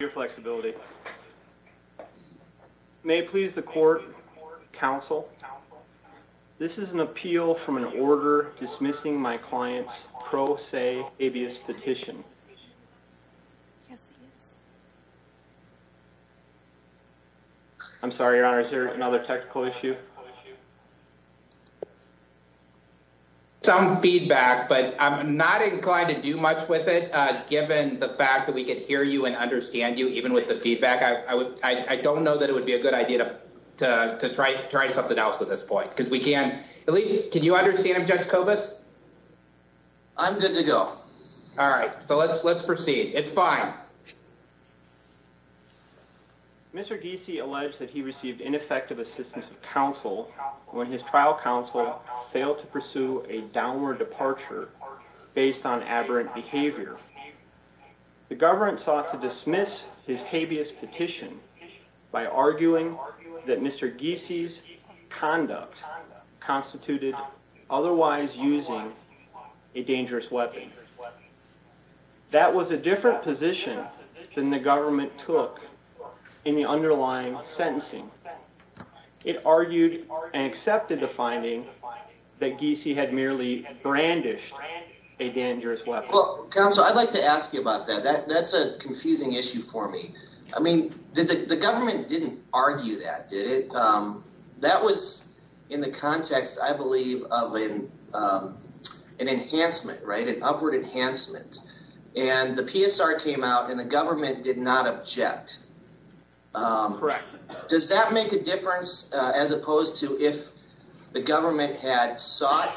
Your flexibility. May it please the court, counsel, this is an appeal from an order dismissing my client's pro se habeas petition. Yes it is. I'm sorry, your honor, is there another technical issue? Some feedback, but I'm not inclined to do much with it given the fact that we can hear you and understand you even with the feedback. I don't know that it would be a good idea to try to try something else at this point because we can at least can you understand him, Judge Cobus? I'm good to go. All right, so let's let's proceed. It's fine. Mr. Giese alleged that he received ineffective assistance of counsel when his trial counsel failed to pursue a downward departure based on aberrant behavior. The government sought to dismiss his habeas petition by arguing that Mr. Giese's conduct constituted otherwise using a dangerous weapon. That was a different position than the government took in the underlying sentencing. It argued and accepted the finding that Giese had merely brandished a dangerous weapon. Counsel, I'd like to ask you about that. That's a confusing issue for me. I mean, the government didn't argue that, did it? That was in the context, I believe, of an enhancement, right? An upward enhancement. And the PSR came out and the government rejected it. Correct. Does that make a difference as opposed to if the government had sought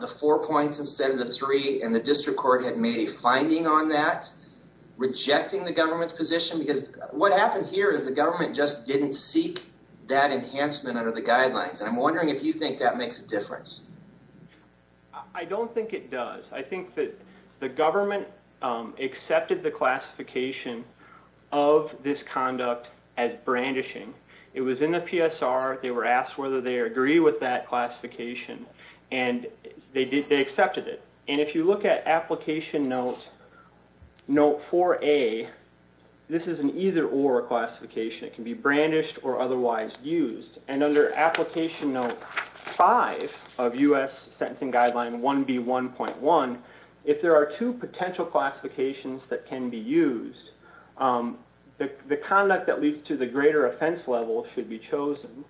the four points instead of the three and the district court had made a finding on that, rejecting the government's position? Because what happened here is the government just didn't seek that enhancement under the guidelines. And I'm wondering if you think that makes a difference. I don't think it does. I think that the government accepted the classification of this conduct as brandishing. It was in the PSR. They were asked whether they agree with that classification. And they accepted it. And if you look at application note 4A, this is an either or classification. It can be brandished or otherwise used. And under application note 5 of U.S. sentencing guideline 1B1.1, if there are two potential classifications that can be used, the conduct that leads to the greater offense level should be chosen.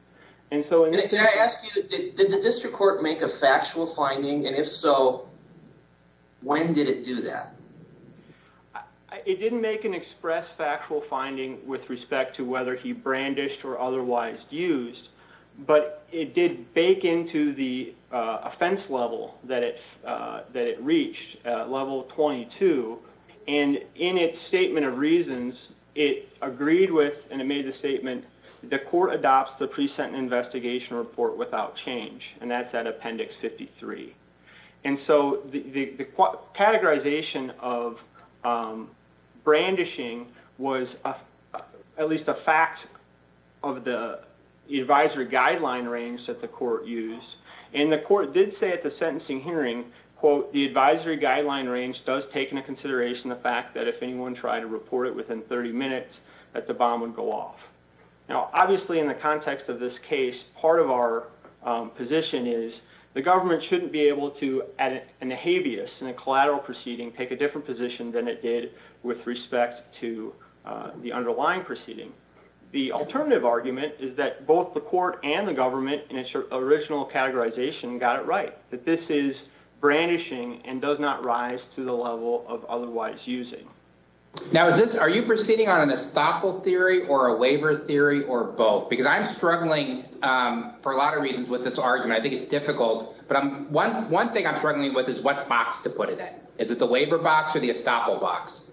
Did the district court make a factual finding? And if so, when did it do that? It didn't make an express factual finding with respect to whether he brandished or otherwise used. But it did bake into the offense level that it reached, level 22. And in its statement of reasons, it agreed with and it made the statement the court adopts the present investigation report without change. And that's at appendix 53. And so the categorization of brandishing was at least a fact of the advisory guideline range that the court used. And the court did say at the sentencing hearing, quote, the advisory guideline range does take into consideration the fact that if anyone tried to report it within 30 minutes, that the bomb would go off. Obviously in the context of this case, part of our position is the government shouldn't be able to, in a habeas, in a collateral proceeding, take a different position than it did with respect to the underlying proceeding. The alternative argument is that both the court and the government in its original categorization got it right, that this is brandishing and does not rise to the level of otherwise using. Now are you proceeding on an estoppel theory or a waiver theory or both? Because I'm struggling for a lot of reasons with this argument. I think it's difficult. But one thing I'm struggling with is what box to put it in. Is it the waiver box or the estoppel box?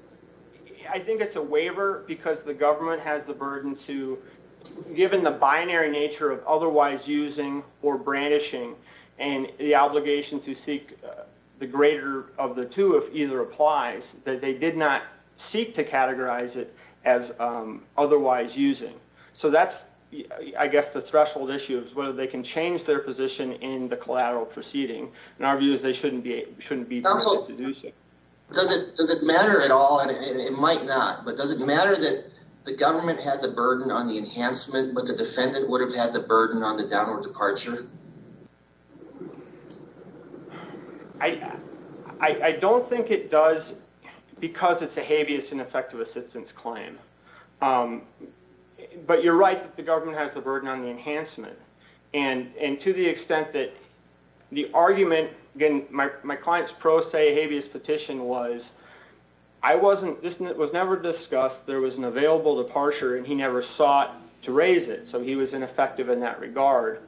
I think it's a waiver because the government has the burden to, given the binary nature of otherwise using or brandishing and the obligation to seek the greater of the two if either applies, that they did not seek to categorize it as otherwise using. So that's, I guess, the threshold issue is whether they can change their position in the collateral proceeding. In our view, they shouldn't be able to do so. Does it matter at all, and it might not, but does it matter that the government had the burden on the downward departure? I don't think it does because it's a habeas and effective assistance claim. But you're right that the government has the burden on the enhancement. And to the extent that the argument, again, my client's pro se habeas petition was, I wasn't, this was never discussed, there was an available departure, and he never sought to raise it. So he was ineffective in that regard.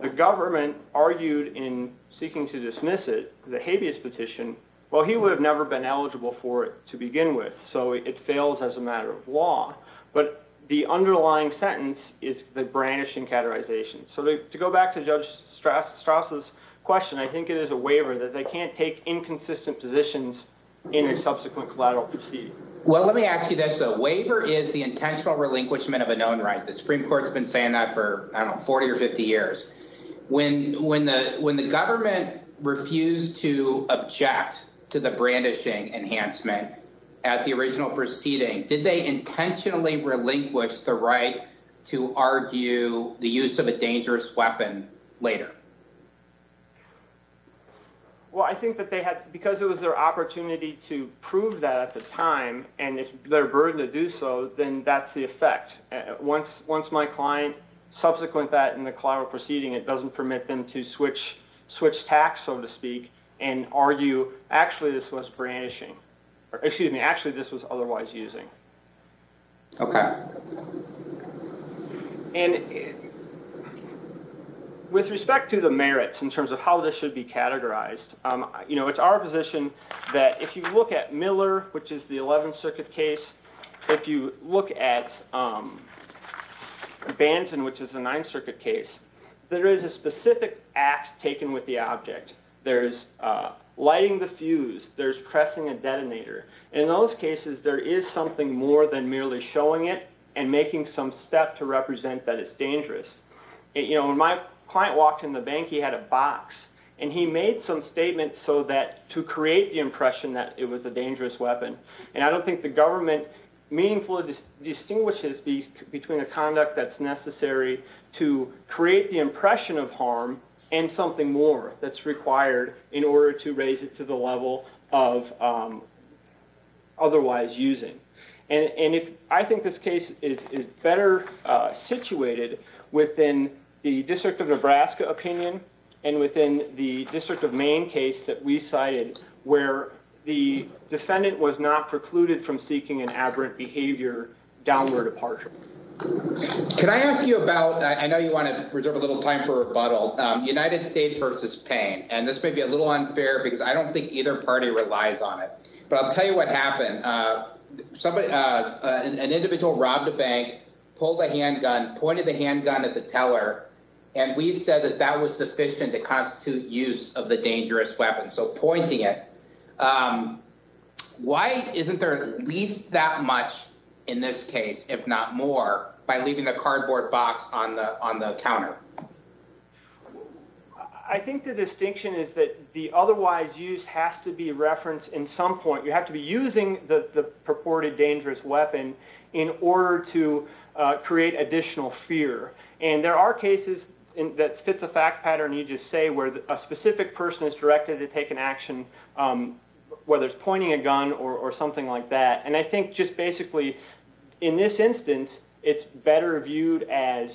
The government argued in seeking to dismiss it, the habeas petition, well, he would have never been eligible for it to begin with. So it fails as a matter of law. But the underlying sentence is the brandishing categorization. So to go back to Judge Straus' question, I think it is a waiver that they can't take inconsistent positions in a subsequent collateral proceeding. Well, let me ask you this. A waiver is the intentional relinquishment of a known right. The Supreme Court's been saying that for, I don't know, 40 or 50 years. When the government refused to object to the brandishing enhancement at the original proceeding, did they intentionally relinquish the right to argue the use of a dangerous weapon later? Well, I think that they had, because it was their opportunity to prove that at the time, and it's their burden to do so, then that's the effect. Once my client subsequent that in the collateral proceeding, it doesn't permit them to switch tacks, so to speak, and argue actually this was brandishing, or excuse me, actually this was otherwise using. Okay. And with respect to the merits in terms of how this should be categorized, you know, it's our position that if you look at Miller, which is the 11th Circuit case, if you look at Banton, which is the 9th Circuit case, there is a specific act taken with the object. There's lighting the fuse. There's pressing a detonator. In those cases, there is something more than merely showing it and making some step to represent that it's dangerous. You know, when my client walked in the bank, he had a box, and he made some statements so that to create the impression that it was a dangerous weapon, and I don't think the government meaningfully distinguishes between a conduct that's necessary to create the impression of harm and something more that's required in order to raise it to the level of otherwise using. And I think this case is better situated within the District of Nebraska opinion and within the District of Maine case that we cited where the defendant was not precluded from seeking an aberrant behavior downward departure. Can I ask you about—I know you want to reserve a little time for rebuttal—United States v. Payne, and this may be a little unfair because I don't think either party relies on it, but I'll tell you what happened. An individual robbed a bank, pulled a handgun, pointed the handgun at the teller, and we said that that was sufficient to constitute use of the dangerous weapon, so pointing it. Why isn't there at least that much in this case, if not more, by leaving a cardboard box on the counter? I think the distinction is that the otherwise use has to be referenced in some point. You have to be using the purported dangerous weapon in order to create additional fear, and there are cases that fit the fact pattern you just say where a specific person is directed to take an action, whether it's pointing a gun or something like that, and I think just basically in this instance, it's better viewed as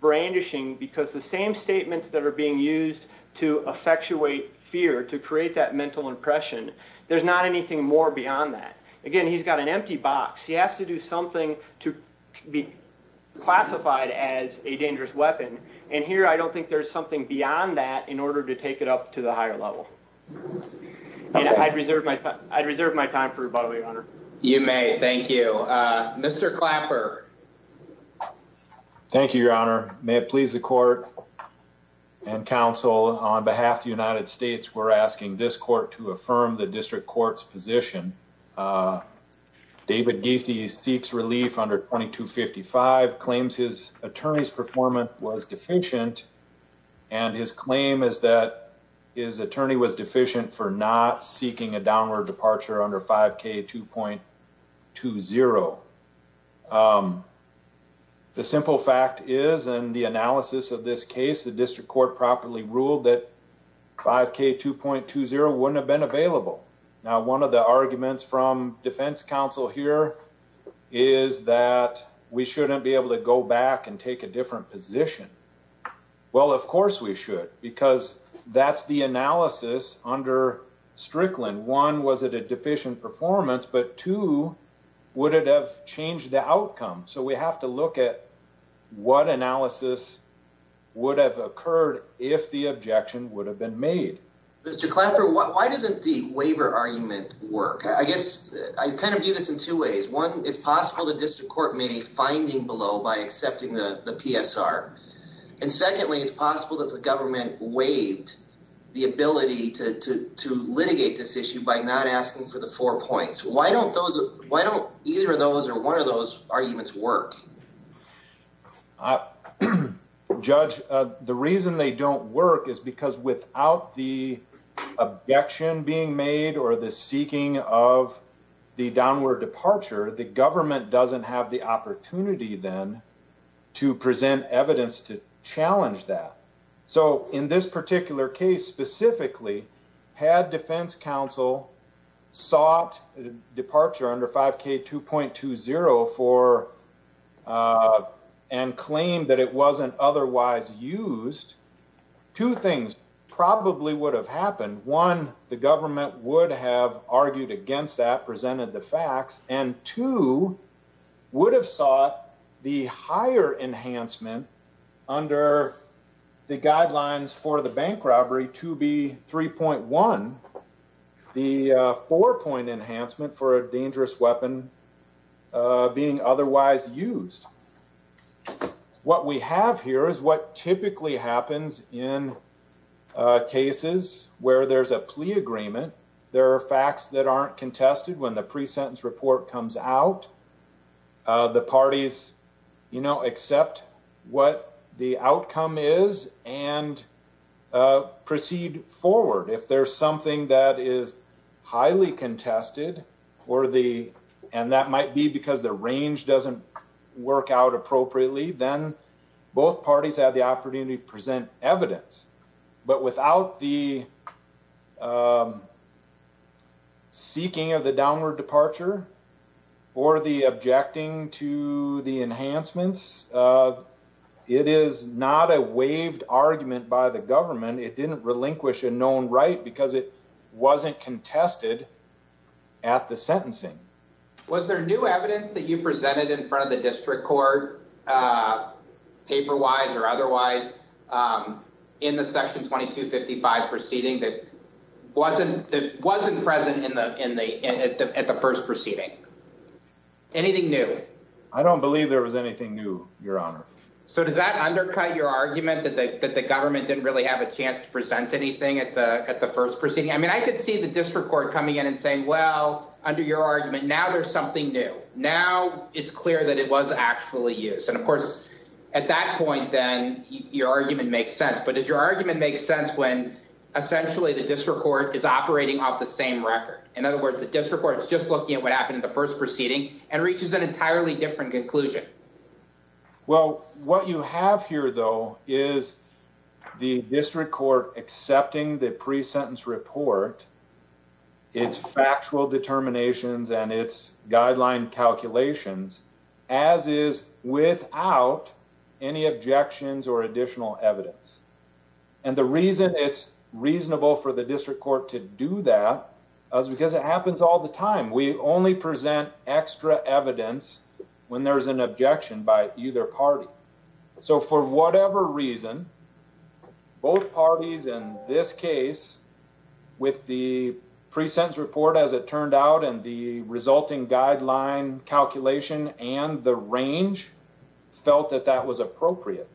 brandishing because the same statements that are being used to effectuate fear, to create that mental impression, there's not anything more beyond that. Again, he's got an empty box. He has to do something to be classified as a dangerous weapon, and here I don't think there's something beyond that in order to take it up to the higher level. I'd reserve my time for rebuttal, Your Honor. You may. Thank you. Mr. Clapper. Thank you, Your Honor. May it please the court and counsel, on behalf of the United States, we're asking this court to affirm the district court's position. David Giese seeks relief under 2255, claims his attorney's performance was deficient, and his claim is that his attorney was deficient for not seeking a downward departure under 5K2.20. The simple fact is, and the analysis of this case, the district court properly ruled that 5K2.20 wouldn't have been available. Now, one of the arguments from defense counsel here is that we shouldn't be able to go back and take a different position. Well, of course we should, because that's the analysis under Strickland. One, was it a deficient performance, but two, would it have changed the outcome? So we have to look at what analysis would have occurred if the objection would have been made. Mr. Clapper, why doesn't the waiver argument work? I guess I kind of view this in two ways. One, it's possible the district court made a finding below by accepting the PSR. And secondly, it's possible that the government waived the ability to litigate this issue by not asking for the four points. Why don't either of those or one of those arguments work? Judge, the reason they don't work is because without the objection being made or the seeking of the downward departure, the government doesn't have the opportunity then to present evidence to challenge that. So in this particular case specifically, had defense counsel sought departure under 5K2.20 and claimed that it wasn't otherwise used, two things probably would have happened. One, the government would have argued against that, presented the facts, and two, would have sought the higher enhancement under the guidelines for the bank robbery, 2B3.1, the four-point enhancement for a dangerous weapon being otherwise used. What we have here is what typically happens in cases where there's a plea agreement. There are facts that aren't contested when the pre-sentence report comes out. The parties accept what the outcome is and proceed forward. If there's something that is highly contested, and that might be because the range doesn't work out appropriately, then both parties have the opportunity to present evidence. But without the seeking of the downward departure or the objecting to the enhancements, it is not a waived argument by the government. It didn't relinquish a known right because it wasn't contested at the sentencing. Was there new evidence that you presented in front of the district court, paper-wise or otherwise, in the Section 2255 proceeding that wasn't present at the first proceeding? Anything new? I don't believe there was anything new, Your Honor. So does that undercut your argument that the government didn't really have a chance to present anything at the first proceeding? I could see the district court coming in and saying, well, under your argument, now there's something new. Now it's clear that it was actually used. And of course, at that point, then, your argument makes sense. But does your argument make sense when essentially the district court is operating off the same record? In other words, the district court is just looking at what happened in the first proceeding and reaches an entirely different conclusion. Well, what you have here, though, is the district court accepting the pre-sentence report, its factual determinations, and its guideline calculations, as is, without any objections or additional evidence. And the reason it's reasonable for the district court to do that is because it happens all the time. We only present extra evidence when there's an objection by either party. So for whatever reason, both parties in this case, with the pre-sentence report, as it turned out, and the resulting guideline calculation and the range, felt that that was appropriate.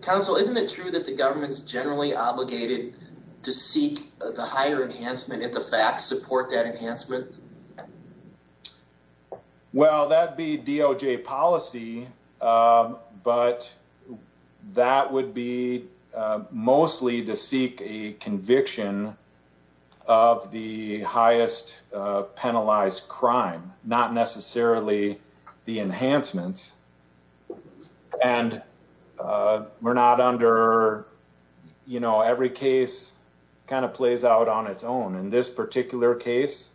Counsel, isn't it true that the government's generally obligated to seek the higher enhancement if the facts support that enhancement? Well, that'd be DOJ policy, but that would be mostly to seek a conviction of the highest penalized crime, not necessarily the enhancements. And we're not under, you know, every case kind of plays out on its own. In this particular case,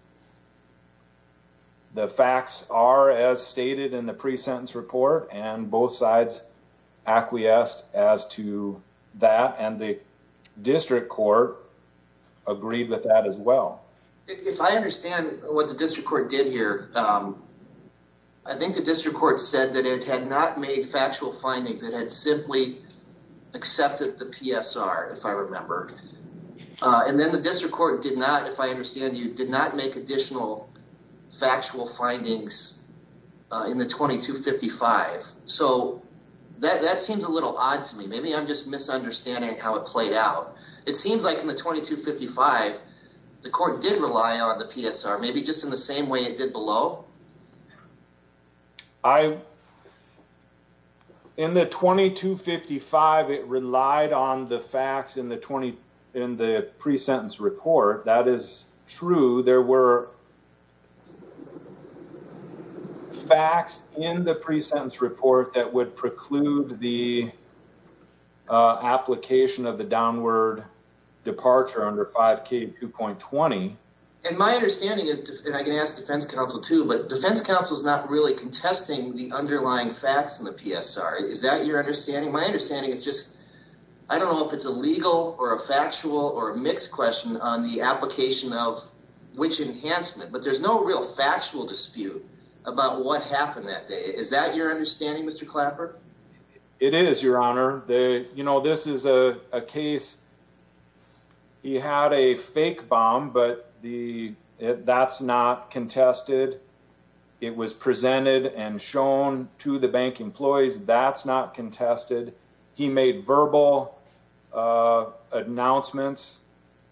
the facts are as stated in the pre-sentence report, and both sides acquiesced as to that, and the district court agreed with that as well. If I understand what the district court did here, I think the district court said that it had not made factual findings. It had simply accepted the PSR, if I remember. And then the district court did not, if I understand you, did not make additional factual findings in the 2255. So that seems a little odd to me. Maybe I'm just misunderstanding how it played out. It seems like in the 2255, the court did rely on the PSR, maybe just in the same way it did below. I, in the 2255, it relied on the facts in the 20, in the pre-sentence report. That is true. There were facts in the pre-sentence report that would preclude the application of the downward departure under 5k, 2.20. And my understanding is, and I can ask defense counsel too, but defense counsel is not really contesting the underlying facts in the PSR. Is that your understanding? My understanding is just, I don't know if it's a legal or a factual or a mixed question on the application of which enhancement, but there's no real factual dispute about what happened that day. Is that your understanding, Mr. Clapper? It is, your honor. You know, this is a case, he had a fake bomb, but that's not contested. It was presented and shown to the bank employees. That's not contested. He made verbal announcements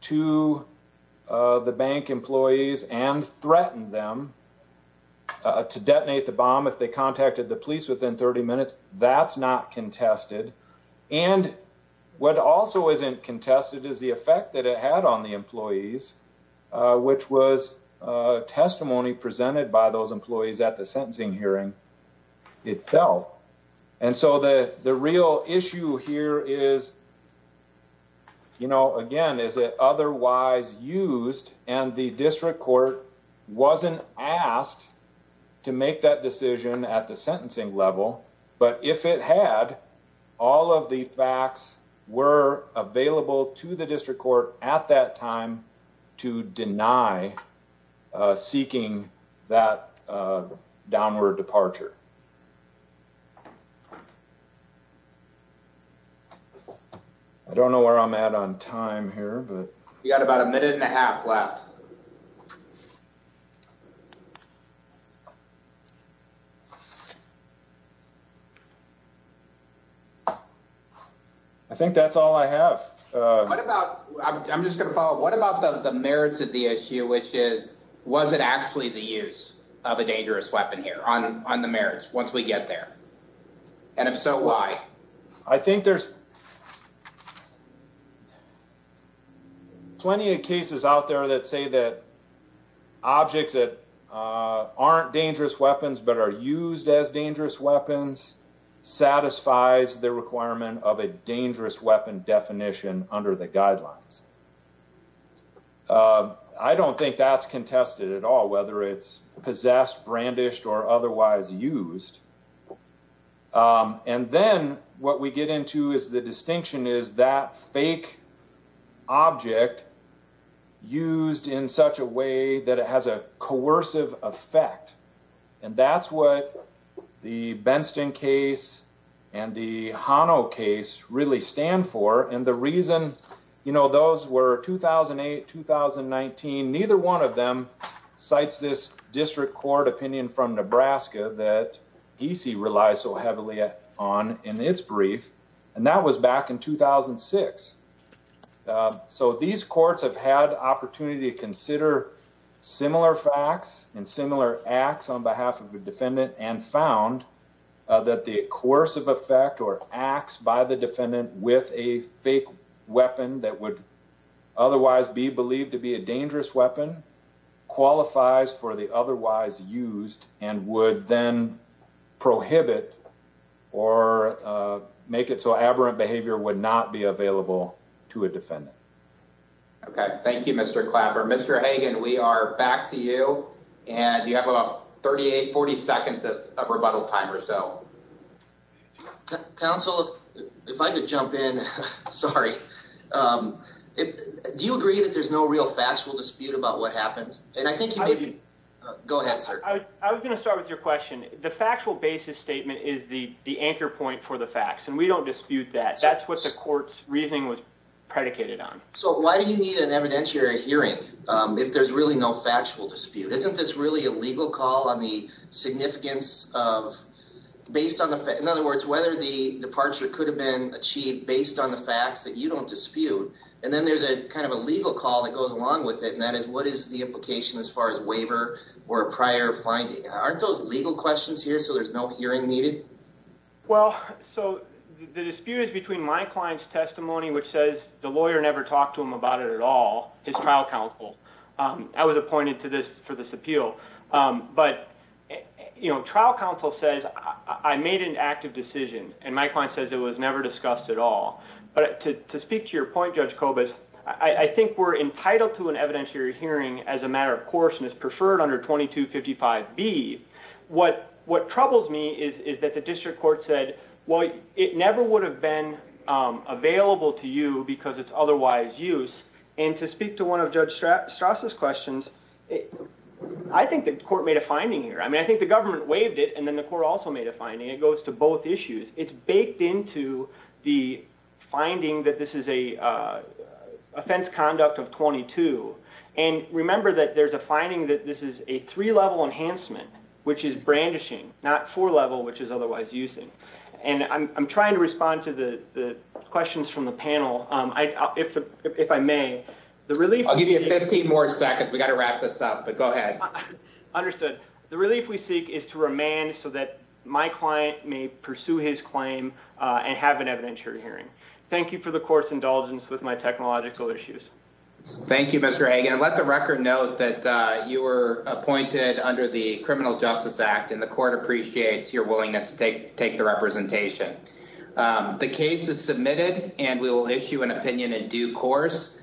to the bank employees and threatened them to detonate the bomb if they contacted the police within 30 minutes. That's not contested. And what also isn't contested is the effect that it had on the employees, which was testimony presented by those employees at the sentencing hearing. It fell. And so the real issue here is, you know, again, is it otherwise used and the district court wasn't asked to make that decision at the sentencing level. But if it had, all of the facts were available to the district court at that time to deny seeking that downward departure. I don't know where I'm at on time here, but. You got about a minute and a half left. I think that's all I have. What about, I'm just going to follow up. What about the merits of the issue, which is, was it actually the use of a dangerous weapon here on the merits once we get there? And if so, why? I think there's plenty of cases out there that say that objects that aren't dangerous weapons, but are used as dangerous weapons, satisfies the requirement of a dangerous weapon definition under the guidelines. I don't think that's contested at all, whether it's possessed, brandished, or otherwise used. And then what we get into is the distinction is that fake object used in such a way that it has a coercive effect. And that's what the Benston case and the Hano case really stand for. And the reason, you know, those were 2008, 2019. Neither one of them cites this district court opinion from Nebraska that he relies so heavily on in its brief. And that was back in 2006. So these courts have had opportunity to consider similar facts and similar acts on behalf of the defendant and found that the coercive effect or acts by the defendant with a fake weapon that would otherwise be believed to be a dangerous weapon qualifies for the otherwise used and would then prohibit or make it so aberrant behavior would not be available to a defendant. Okay. Thank you, Mr. Clapper. Mr. Hagan, we are back to you. And you have about 38, 40 seconds of rebuttal time or so. Counsel, if I could jump in. Sorry. Do you agree that there's no real factual dispute about what happened? And I think maybe go ahead, sir. I was going to start with your question. The factual basis statement is the anchor point for the facts. And we don't dispute that. That's what the court's reasoning was predicated on. So why do you need an evidentiary hearing if there's really no factual dispute? Isn't this really a legal call on the significance of, in other words, whether the departure could have been achieved based on the facts that you don't dispute? And then there's a kind of a legal call that goes along with it, and that is what is the implication as far as waiver or prior finding? Aren't those legal questions here so there's no hearing needed? Well, so the dispute is between my client's testimony, which says the lawyer never talked to him about it at all, his trial counsel. I was appointed for this appeal. But, you know, trial counsel says I made an active decision. And my client says it was never discussed at all. But to speak to your point, Judge Kobus, I think we're entitled to an evidentiary hearing as a matter of course and is preferred under 2255B. What troubles me is that the district court said, well, it never would have been available to you because it's otherwise used. And to speak to one of Judge Straus' questions, I think the court made a finding here. I mean, I think the government waived it, and then the court also made a finding. It goes to both issues. It's baked into the finding that this is an offense conduct of 22. And remember that there's a finding that this is a three-level enhancement, which is brandishing, not four-level, which is otherwise using. And I'm trying to respond to the questions from the panel. If I may, the relief— I'll give you 15 more seconds. We've got to wrap this up, but go ahead. Understood. The relief we seek is to remain so that my client may pursue his claim and have an evidentiary hearing. Thank you for the court's indulgence with my technological issues. Thank you, Mr. Hagan. And let the record note that you were appointed under the Criminal Justice Act, and the court appreciates your willingness to take the representation. The case is submitted, and we will issue an opinion in due course.